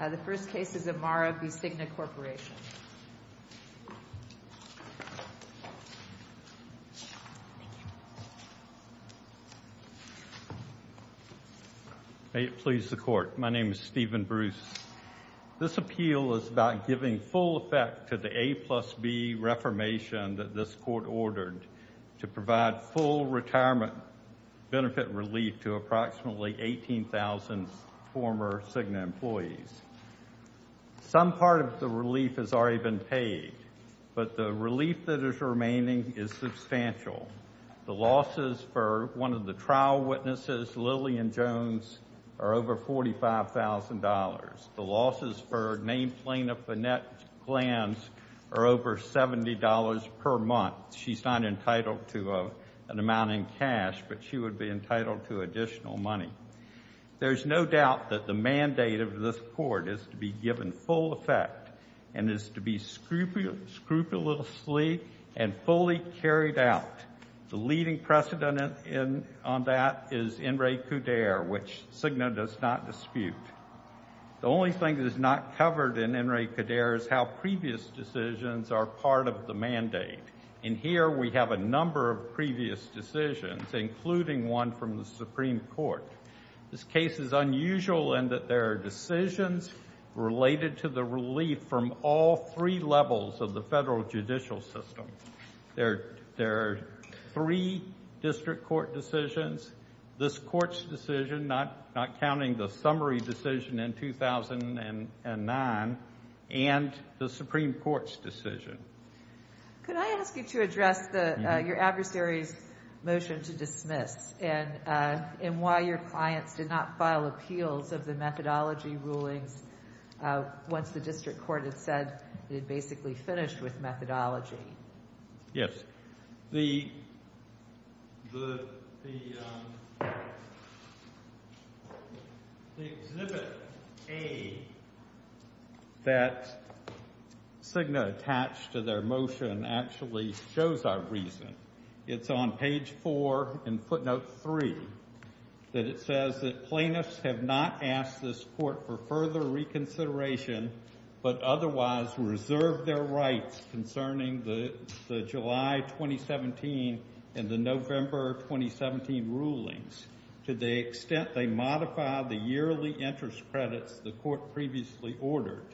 The first case is Amara v. CIGNA Corporation. May it please the court. My name is Steven Bruce. This appeal is about giving full effect to the A plus B reformation that this court ordered to provide full retirement benefit relief to approximately 18,000 former CIGNA employees. Some part of the relief has already been paid, but the relief that is remaining is substantial. The losses for one of the trial witnesses, Lillian Jones, are over $45,000. The losses for named plaintiff, Annette Glantz, are over $70 per month. She's not entitled to an amount in cash, but she would be entitled to additional money. There's no doubt that the mandate of this court is to be given full effect and is to be scrupulously and fully carried out. The leading precedent on that is In re Cuder, which CIGNA does not dispute. The only thing that is not covered in In re Cuder is how previous decisions are part of the mandate. In here, we have a number of previous decisions, including one from the Supreme Court. This case is unusual in that there are decisions related to the relief from all three levels of the federal judicial system. There are three district court decisions, this court's decision, not counting the summary decision in 2009, and the Supreme Court's decision. Could I ask you to address your adversary's motion to dismiss and why your clients did not file appeals of the methodology rulings once the district court had said they'd basically finished with methodology? Yes. The Exhibit A that CIGNA attached to their motion actually shows our reason. It's on page four in footnote three that it says that plaintiffs have not asked this court for further reconsideration, but otherwise reserved their rights concerning the July 2017 and the November 2017 rulings to the extent they modify the yearly interest credits the court previously ordered.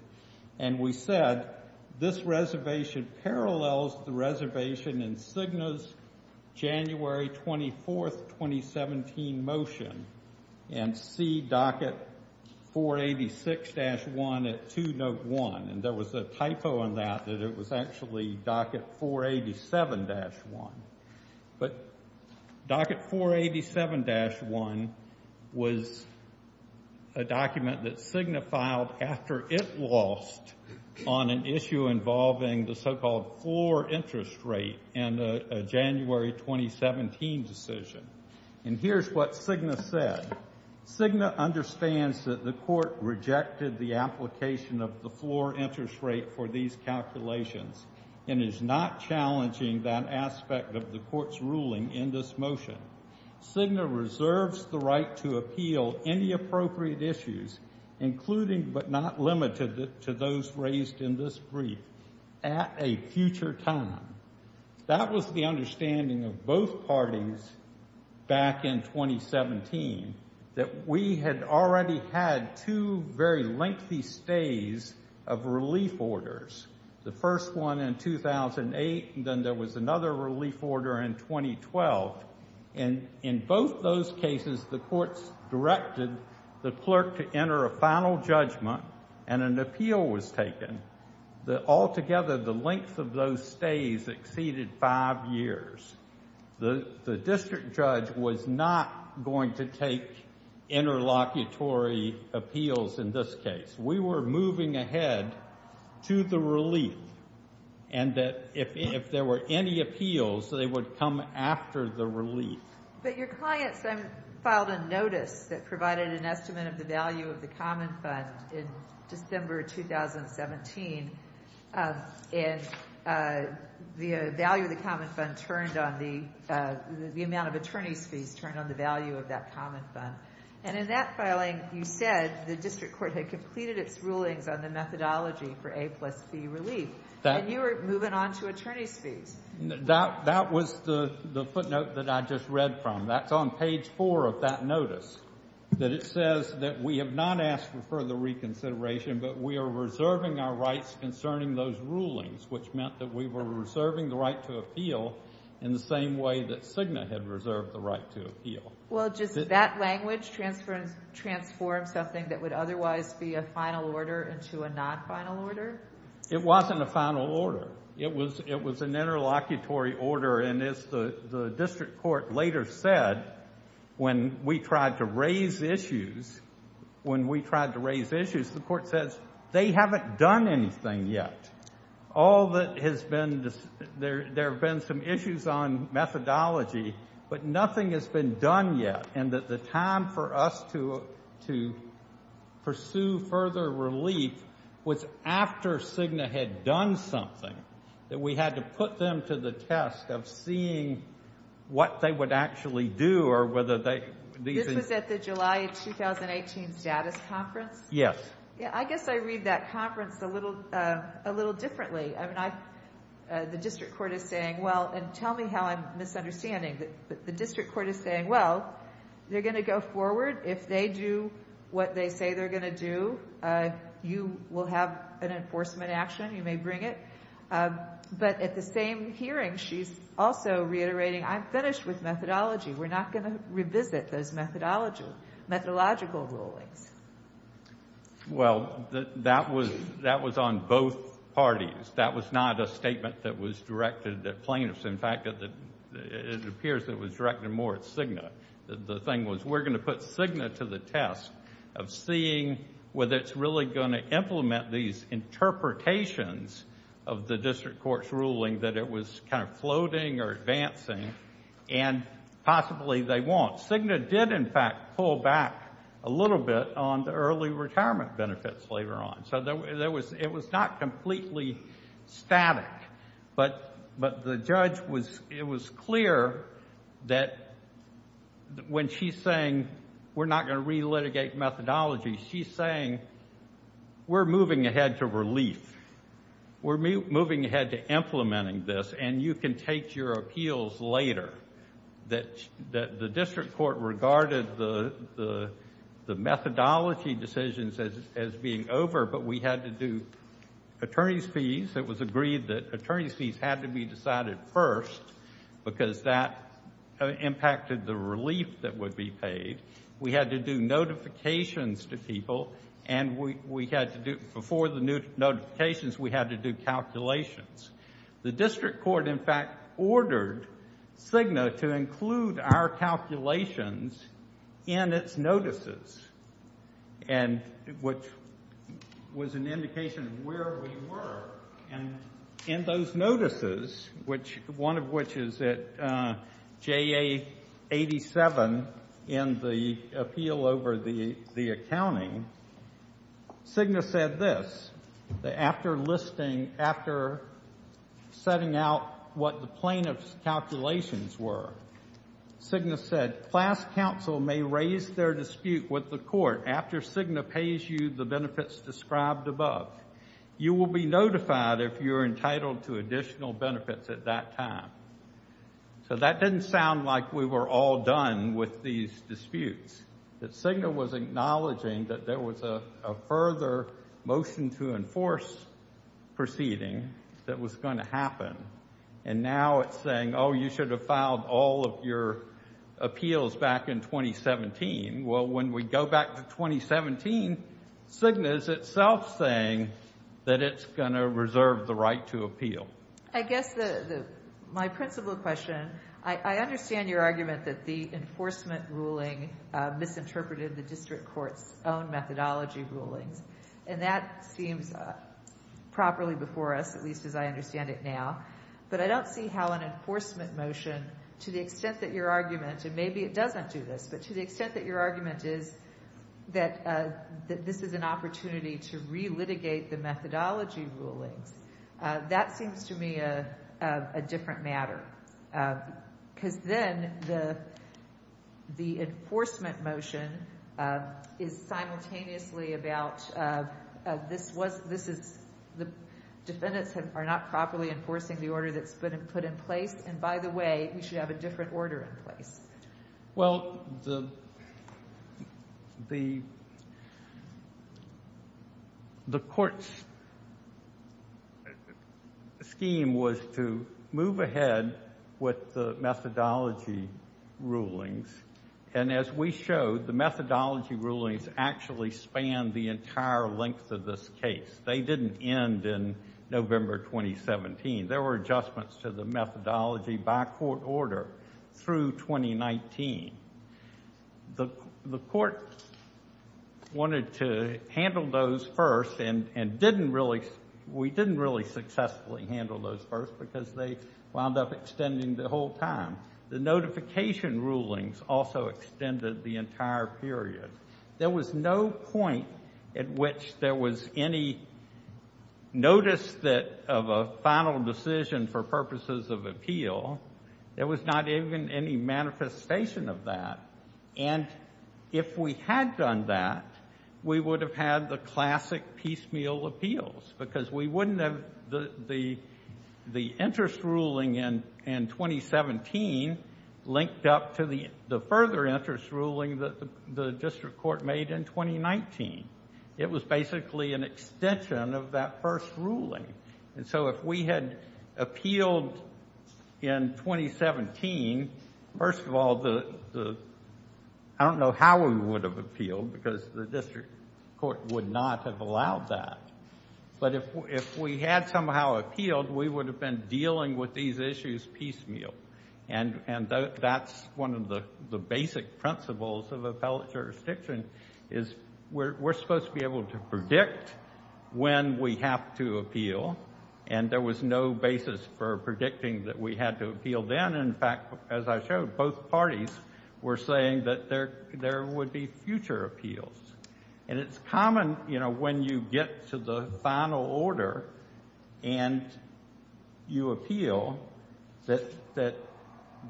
And we said, this reservation parallels the reservation in CIGNA's January 24th, 2017 motion and see docket 486-1 at two note one. And there was a typo on that, that it was actually docket 487-1. But docket 487-1 was a document that CIGNA filed after it lost on an issue involving the so-called floor interest rate in a January 2017 decision. And here's what CIGNA said. CIGNA understands that the court rejected the application of the floor interest rate for these calculations and is not challenging that aspect of the court's ruling in this motion. CIGNA reserves the right to appeal any appropriate issues, including, but not limited to those raised in this brief, at a future time. That was the understanding of both parties back in 2017, that we had already had two very lengthy stays of relief orders. The first one in 2008, and then there was another relief order in 2012. And in both those cases, the courts directed the clerk to enter a final judgment and an appeal was taken. That altogether, the length of those stays exceeded five years. The district judge was not going to take interlocutory appeals in this case. We were moving ahead to the relief and that if there were any appeals, they would come after the relief. But your client filed a notice that provided an estimate of the value of the amount of attorney's fees turned on the value of that common fund. And in that filing, you said the district court had completed its rulings on the methodology for A plus B relief, and you were moving on to attorney's fees. That was the footnote that I just read from. That's on page four of that notice, that it says that we have not asked for further reconsideration, but we are reserving our rights concerning those rulings, which meant that we were reserving the right to appeal in the same way that Cigna had reserved the right to appeal. Well, does that language transform something that would otherwise be a final order into a non-final order? It wasn't a final order. It was an interlocutory order. And as the district court later said, when we tried to raise issues, when we tried to raise issues, the court says, they haven't done anything yet. All that has been, there have been some issues on methodology, but nothing has been done yet, and that the time for us to pursue further relief was after Cigna had done something, that we had to put them to the test of seeing what they would actually do or whether they, these... This was at the July 2018 status conference? Yes. Yeah. I guess I read that conference a little, a little differently. I mean, I, the district court is saying, well, and tell me how I'm misunderstanding, but the district court is saying, well, they're going to go forward if they do what they say they're going to do, you will have an enforcement action, you may bring it. But at the same hearing, she's also reiterating, I'm finished with methodology. We're not going to revisit those methodology, methodological rulings. Well, that was, that was on both parties. That was not a statement that was directed at plaintiffs. In fact, it appears that it was directed more at Cigna. The thing was, we're going to put Cigna to the test of seeing whether it's really going to implement these interpretations of the district court's ruling that it was kind of floating or advancing, and possibly they won't. Cigna did, in fact, pull back a little bit on the early retirement benefits later on. So there was, it was not completely static, but the judge was, it was clear that when she's saying, we're not going to re-litigate methodology, she's saying, we're moving ahead to relief. We're moving ahead to implementing this and you can take your appeals later, that the district court regarded the methodology decisions as being over, but we had to do attorney's fees. It was agreed that attorney's fees had to be decided first, because that impacted the relief that would be paid. We had to do notifications to people and we had to do, before the new notifications, we had to do calculations. The district court, in fact, ordered Cigna to include our calculations in its notices, and which was an indication of where we were, and in those notices, one of which is at JA 87 in the appeal over the accounting, Cigna said this, that after listing, after setting out what the plaintiff's calculations were, Cigna said, class counsel may raise their dispute with the court after Cigna pays you the benefits described above, you will be notified if you're entitled to additional benefits at that time. So that didn't sound like we were all done with these disputes, that Cigna was acknowledging that there was a further motion to enforce proceeding that was going to happen, and now it's saying, oh, you should have filed all of your appeals back in 2017. Well, when we go back to 2017, Cigna is itself saying that it's going to reserve the right to appeal. I guess my principal question, I understand your argument that the district court's own methodology rulings, and that seems properly before us, at least as I understand it now, but I don't see how an enforcement motion, to the extent that your argument, and maybe it doesn't do this, but to the extent that your argument is that this is an opportunity to relitigate the methodology rulings, that seems to me a different matter. Because then the enforcement motion is simultaneously about this was, this is, the defendants are not properly enforcing the order that's been put in place. And by the way, we should have a different order in place. Well, the court's scheme was to move ahead with the methodology rulings. And as we showed, the methodology rulings actually span the entire length of this case. They didn't end in November, 2017. There were adjustments to the methodology by court order through 2019. The court wanted to handle those first and didn't really, we didn't really successfully handle those first because they wound up extending the whole time. The notification rulings also extended the entire period. There was no point at which there was any notice that, of a final decision for purposes of appeal, there was not even any manifestation of that. And if we had done that, we would have had the classic piecemeal appeals because we wouldn't have the interest ruling in 2017 linked up to the further interest ruling that the district court made in 2019. It was basically an extension of that first ruling. And so if we had appealed in 2017, first of all, the, I don't know how we would have appealed because the district court would not have allowed that, but if we had somehow appealed, we would have been dealing with these issues piecemeal. And that's one of the basic principles of appellate jurisdiction is we're supposed to be able to predict when we have to appeal, and there was no basis for predicting that we had to appeal then. And in fact, as I showed, both parties were saying that there would be future appeals, and it's common, you know, when you get to the final order and you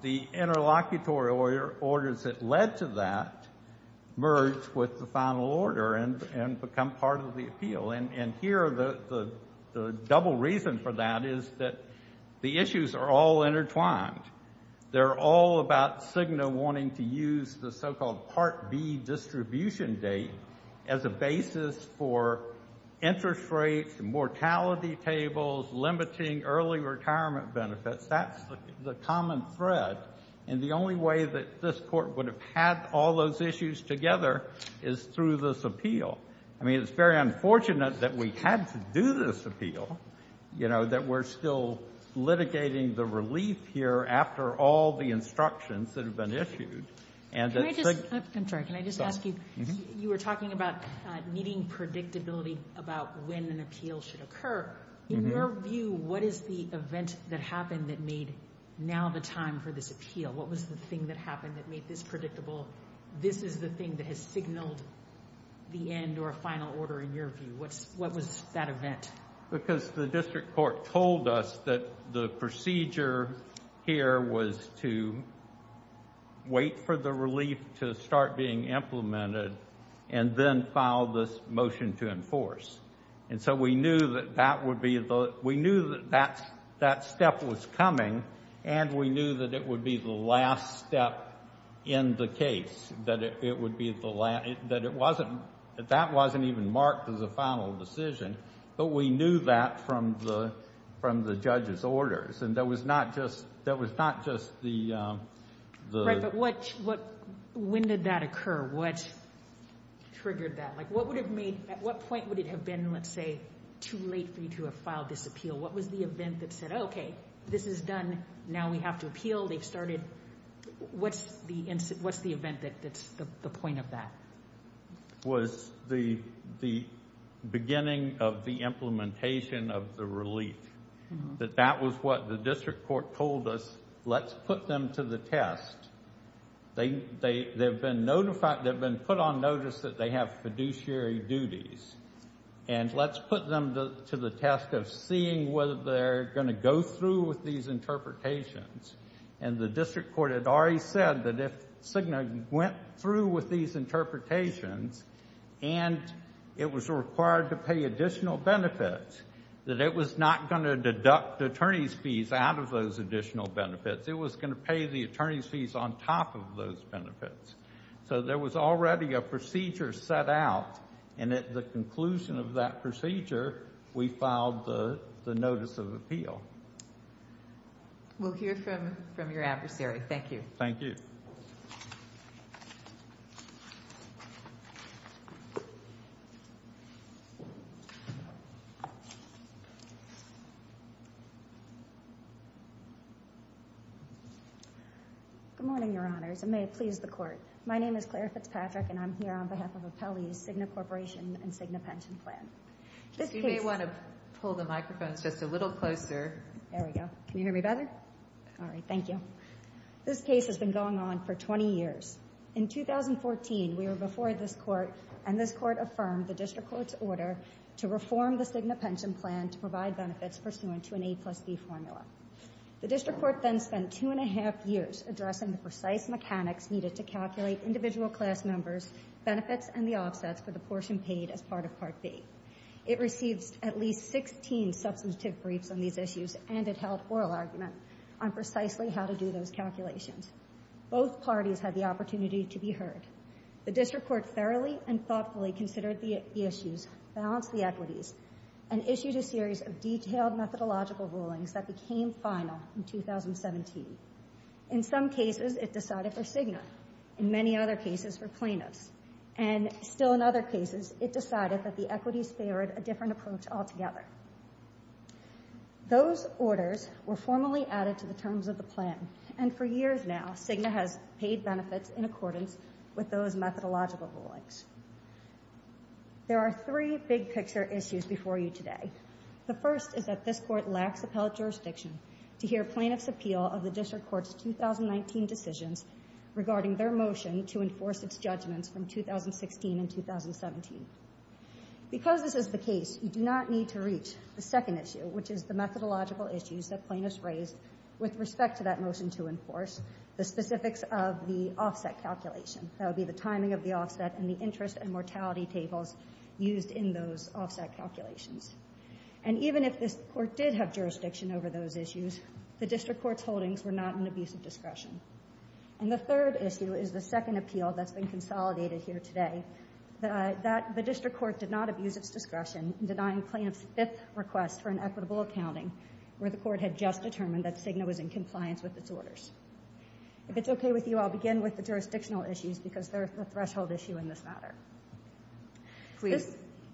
the interlocutory orders that led to that merged with the final order and become part of the appeal. And here, the double reason for that is that the issues are all intertwined. They're all about CIGNA wanting to use the so-called Part B distribution date as a basis for interest rates, mortality tables, limiting early retirement benefits. That's the common thread, and the only way that this Court would have had all those issues together is through this appeal. I mean, it's very unfortunate that we had to do this appeal, you know, that we're still litigating the relief here after all the instructions that have been issued. And that's a big problem. I'm sorry. Can I just ask you, you were talking about needing predictability about when an appeal should occur. In your view, what is the event that happened that made now the time for this appeal? What was the thing that happened that made this predictable? This is the thing that has signaled the end or final order in your view. What was that event? Because the district court told us that the procedure here was to wait for the relief to start being implemented and then file this motion to enforce. And so we knew that that would be the, we knew that that step was coming, and we knew that it would be the last step in the case, that it would be the last, that it wasn't, that that wasn't even marked as a final decision. But we knew that from the judge's orders. And that was not just, that was not just the... Right, but what, when did that occur? What triggered that? What would have made, at what point would it have been, let's say, too late for you to have filed this appeal? What was the event that said, okay, this is done, now we have to appeal, they've started. What's the event that's the point of that? Was the beginning of the implementation of the relief, that that was what the district court told us, let's put them to the test. They've been notified, they've been put on notice that they have fiduciary duties, and let's put them to the test of seeing whether they're going to go through with these interpretations. And the district court had already said that if CIGNA went through with these interpretations, and it was required to pay additional benefits, that it was not going to deduct attorney's fees out of those additional benefits. It was going to pay the attorney's fees on top of those benefits. So there was already a procedure set out, and at the conclusion of that procedure, we filed the notice of appeal. We'll hear from your adversary. Thank you. Thank you. Good morning, your honors, and may it please the court. My name is Claire Fitzpatrick, and I'm here on behalf of Appellee's CIGNA Corporation and CIGNA Pension Plan. You may want to pull the microphones just a little closer. There we go. Can you hear me better? All right, thank you. This case has been going on for 20 years. In 2014, we were before this court, and this court affirmed the district court's order to reform the CIGNA Pension Plan to provide benefits pursuant to an A plus B formula. The district court then spent two and a half years addressing the precise mechanics needed to calculate individual class members' benefits and the offsets for the portion paid as part of Part B. It received at least 16 substantive briefs on these issues, and it held oral argument on precisely how to do those calculations. Both parties had the opportunity to be heard. The district court thoroughly and thoughtfully considered the issues, balanced the equities, and issued a series of detailed methodological rulings that became final in 2017. In some cases, it decided for CIGNA. In many other cases, for plaintiffs. And still in other cases, it decided that the equities favored a different approach altogether. Those orders were formally added to the terms of the plan, and for years now, CIGNA has paid benefits in accordance with those methodological rulings. There are three big picture issues before you today. The first is that this court lacks appellate jurisdiction to hear plaintiff's appeal of the district court's 2019 decisions regarding their motion to enforce its judgments from 2016 and 2017. Because this is the case, you do not need to reach the second issue, which is the methodological issues that plaintiffs raised with respect to that motion to enforce, the specifics of the offset calculation. That would be the timing of the offset and the interest and mortality tables used in those offset calculations. And even if this court did have jurisdiction over those issues, the district court's holdings were not in abusive discretion. And the third issue is the second appeal that's been consolidated here today, that the district court did not abuse its discretion in denying plaintiff's fifth request for an equitable accounting, where the court had just determined that CIGNA was in compliance with its orders. If it's okay with you, I'll begin with the jurisdictional issues, because they're the threshold issue in this matter.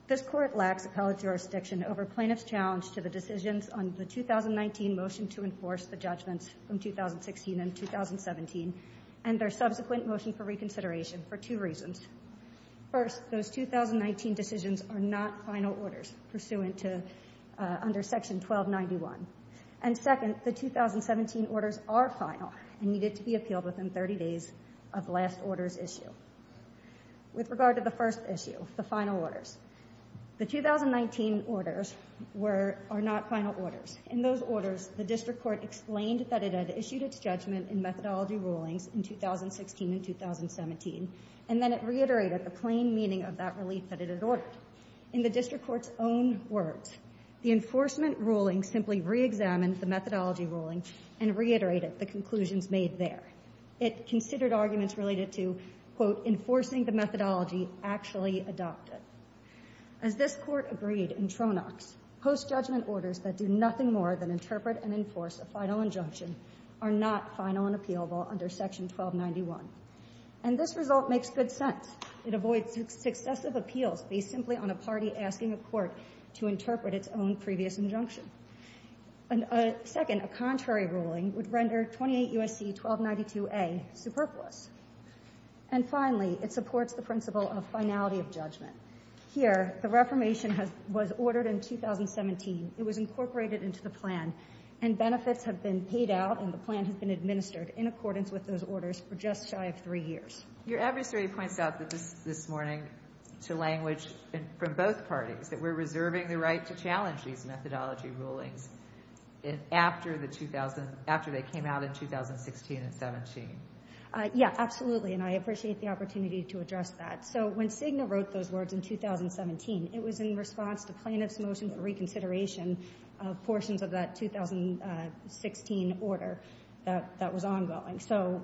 This court lacks appellate jurisdiction over plaintiff's challenge to the decisions on the 2019 motion to enforce the judgments from 2016 and 2017 and their subsequent motion for reconsideration for two reasons. First, those 2019 decisions are not final orders pursuant to under section 1291. And second, the 2017 orders are final and needed to be appealed within 30 days of the last order's issue. With regard to the first issue, the final orders, the 2019 orders were, are not final orders. In those orders, the district court explained that it had issued its judgment in methodology rulings in 2016 and 2017, and then it reiterated the plain meaning of that relief that it had ordered. In the district court's own words, the enforcement ruling simply reexamined the methodology ruling and reiterated the conclusions made there. It considered arguments related to, quote, enforcing the methodology, actually adopted. As this court agreed in Tronox, post-judgment orders that do nothing more than interpret and enforce a final injunction are not final and appealable under section 1291. And this result makes good sense. It avoids successive appeals based simply on a party asking a court to interpret its own previous injunction. And second, a contrary ruling would render 28 U.S.C. 1292A superfluous. And finally, it supports the principle of finality of judgment. Here, the reformation has, was ordered in 2017. It was incorporated into the plan, and benefits have been paid out and the plan has been administered in accordance with those orders for just shy of three years. Your adversary points out that this, this morning, to language from both parties, that we're reserving the right to challenge these methodology rulings after the 2000, after they came out in 2016 and 17. Yeah, absolutely. And I appreciate the opportunity to address that. So, when Cigna wrote those words in 2017, it was in response to plaintiff's motion for reconsideration of portions of that 2016 order that, that was ongoing. So,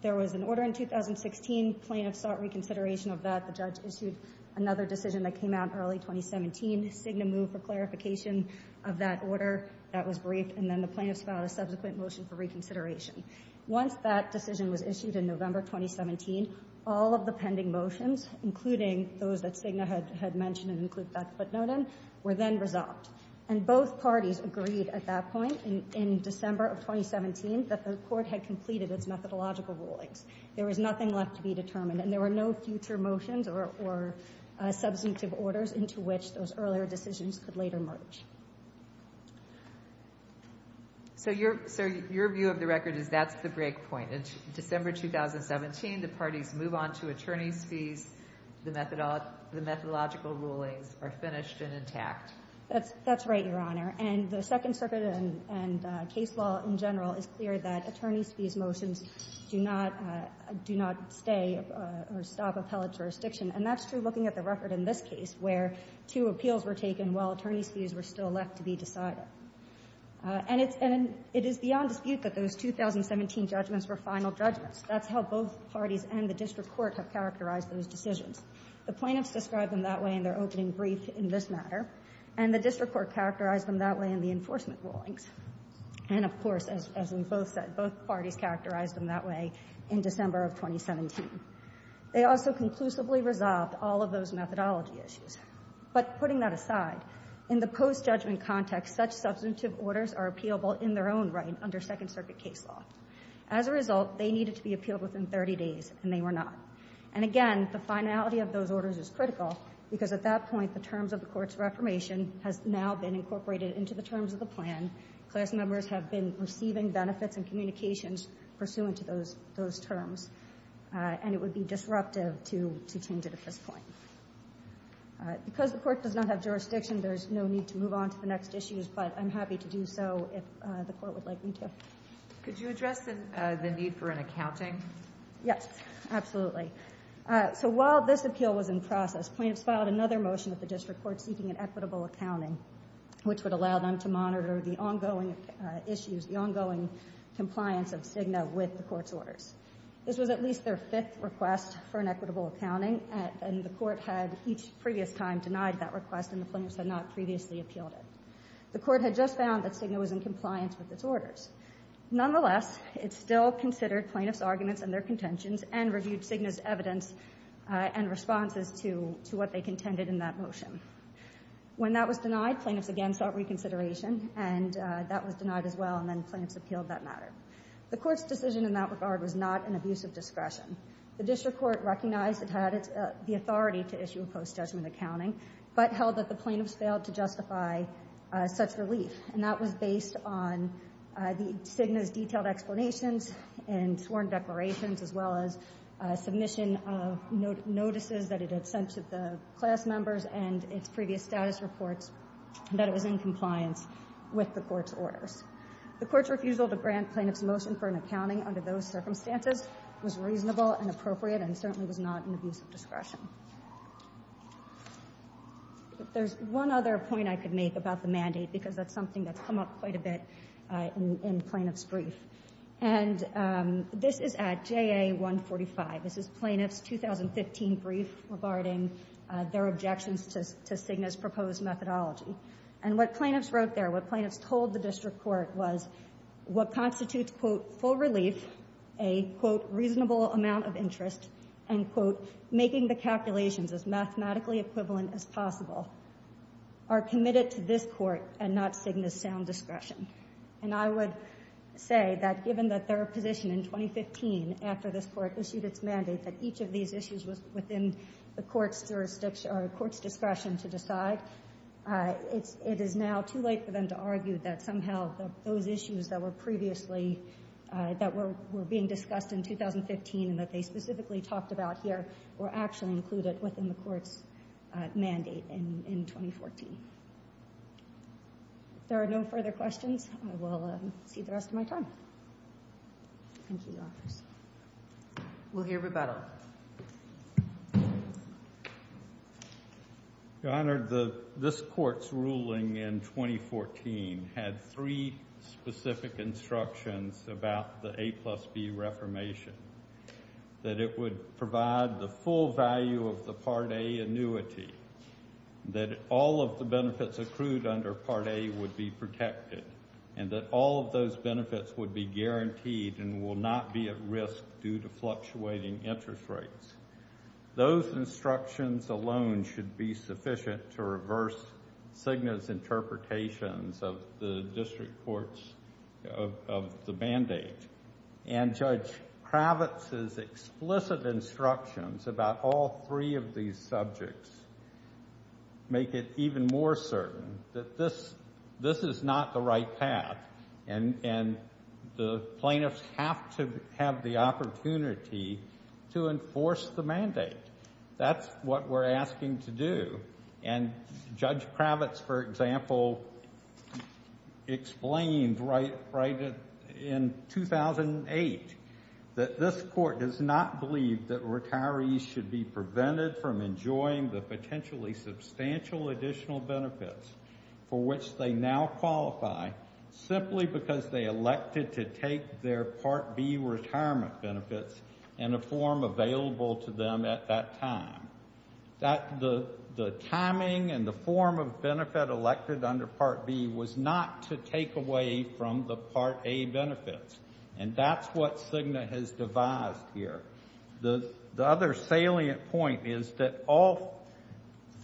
there was an order in 2016, plaintiffs sought reconsideration of that. The judge issued another decision that came out early 2017. Cigna moved for clarification of that order. That was briefed, and then the plaintiffs filed a subsequent motion for reconsideration. Once that decision was issued in November 2017, all of the pending motions, including those that Cigna had, had mentioned and include that footnote in, were then resolved. And both parties agreed at that point, in, in December of 2017, that the court had completed its methodological rulings. There was nothing left to be determined. And there were no future motions or, or substantive orders into which those earlier decisions could later merge. So, your, so your view of the record is that's the break point. In December 2017, the parties move on to attorney's fees. The methodo, the methodological rulings are finished and intact. That's, that's right, Your Honor. And the Second Circuit and, and case law in general is clear that attorney's motions do not, do not stay or stop appellate jurisdiction. And that's true looking at the record in this case, where two appeals were taken while attorney's fees were still left to be decided. And it's, and it is beyond dispute that those 2017 judgments were final judgments. That's how both parties and the district court have characterized those decisions. The plaintiffs described them that way in their opening brief in this matter, and the district court characterized them that way in the enforcement rulings. And of course, as, as we both said, both parties characterized them that way in December of 2017. They also conclusively resolved all of those methodology issues. But putting that aside, in the post-judgment context, such substantive orders are appealable in their own right under Second Circuit case law. As a result, they needed to be appealed within 30 days, and they were not. And again, the finality of those orders is critical, because at that point, the terms of the court's reformation has now been incorporated into the terms of the plan. Class members have been receiving benefits and communications pursuant to those, those terms. And it would be disruptive to, to change it at this point. Because the court does not have jurisdiction, there's no need to move on to the next issues. But I'm happy to do so if the court would like me to. Could you address the, the need for an accounting? Yes, absolutely. So while this appeal was in process, plaintiffs filed another motion at the district court seeking an equitable accounting. Which would allow them to monitor the ongoing issues, the ongoing compliance of Cigna with the court's orders. This was at least their fifth request for an equitable accounting, and the court had each previous time denied that request, and the plaintiffs had not previously appealed it. The court had just found that Cigna was in compliance with its orders. Nonetheless, it still considered plaintiffs' arguments and their contentions, and reviewed Cigna's evidence and responses to, to what they contended in that motion. When that was denied, plaintiffs again sought reconsideration, and that was denied as well, and then plaintiffs appealed that matter. The court's decision in that regard was not an abuse of discretion. The district court recognized it had its, the authority to issue a post-judgment accounting, but held that the plaintiffs failed to justify such relief. And that was based on the Cigna's detailed explanations and sworn declarations, as well as submission of notices that it had sent to the class members and its previous status reports, and that it was in compliance with the court's orders. The court's refusal to grant plaintiff's motion for an accounting under those circumstances was reasonable and appropriate, and certainly was not an abuse of discretion. There's one other point I could make about the mandate, because that's something that's come up quite a bit in, in plaintiff's brief. And this is at JA 145, this is plaintiff's 2015 brief regarding their objections to, to Cigna's proposed methodology. And what plaintiffs wrote there, what plaintiffs told the district court was, what constitutes, quote, full relief, a, quote, reasonable amount of interest, and, quote, making the calculations as mathematically equivalent as possible, are committed to this court and not Cigna's sound discretion. And I would say that given that their position in 2015 after this court issued its mandate that each of these issues was within the court's jurisdiction, or the court's discretion to decide, it's, it is now too late for them to argue that somehow those issues that were previously, that were, were being discussed in 2015 and that they specifically talked about here, were actually included within the court's mandate in, in 2014. If there are no further questions, I will see the rest of my time. Thank you, Your Honors. We'll hear rebuttal. Your Honor, the, this court's ruling in 2014 had three specific instructions about the A plus B reformation, that it would provide the full value of the Part A annuity, that all of the benefits accrued under Part A would be protected, and that all of those benefits would be guaranteed and will not be at risk due to fluctuating interest rates. Those instructions alone should be sufficient to reverse Cigna's interpretations of the district court's, of, of the band-aid. And Judge Kravitz's explicit instructions about all three of these subjects make it even more certain that this, this is not the right path and, and the plaintiffs have to have the opportunity to enforce the mandate. That's what we're asking to do. And Judge Kravitz, for example, explained right, right in 2008 that this court does not believe that retirees should be prevented from enjoying the potentially substantial additional benefits for which they now qualify simply because they elected to take their Part B retirement benefits in a form available to them at that time, that the, the timing and the form of benefit elected under Part B was not to take away from the Part A benefits, and that's what Cigna has devised here. The, the other salient point is that all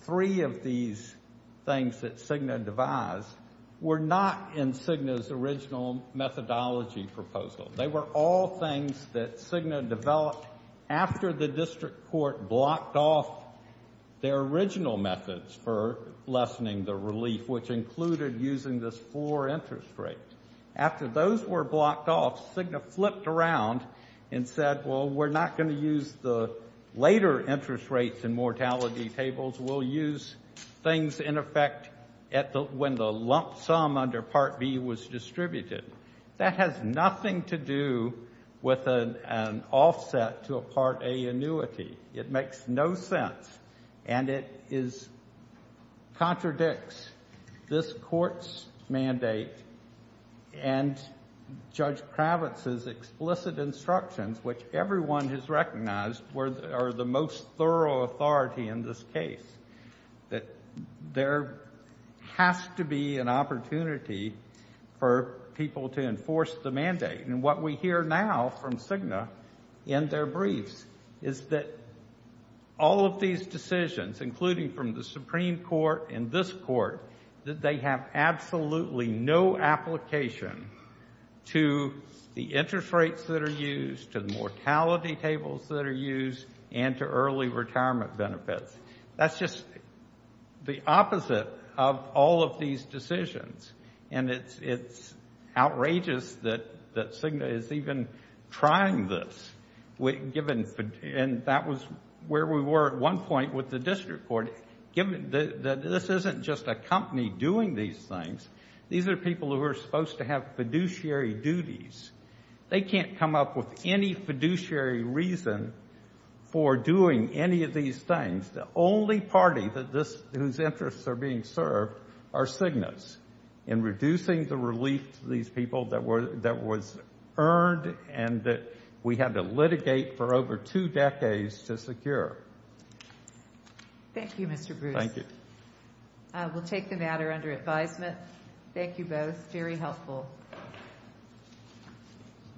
three of these things that Cigna devised were not in Cigna's original methodology proposal. They were all things that Cigna developed after the district court blocked off their original methods for lessening the relief, which included using this floor interest rate. After those were blocked off, Cigna flipped around and said, well, we're not going to use the later interest rates and mortality tables, we'll use things in effect at the, when the lump sum under Part B was distributed. That has nothing to do with an, an offset to a Part A annuity. It makes no sense. And it is, contradicts this court's mandate and Judge Kravitz's explicit instructions, which everyone has recognized are the most thorough authority in this case, that there has to be an opportunity for people to enforce the mandate. And what we hear now from Cigna in their briefs is that all of these decisions, including from the Supreme Court and this court, that they have absolutely no application to the interest rates that are used, to the mortality tables that are used, and to early retirement benefits. That's just the opposite of all of these decisions. And it's, it's outrageous that, that Cigna is even trying this, given, and that was where we were at one point with the district court, given that this isn't just a company doing these things. These are people who are supposed to have fiduciary duties. They can't come up with any fiduciary reason for doing any of these things. The only party that this, whose interests are being served are Cigna's. And reducing the relief to these people that were, that was earned and that we had to litigate for over two decades to secure. Thank you, Mr. Bruce. Thank you. I will take the matter under advisement. Thank you both. Very helpful.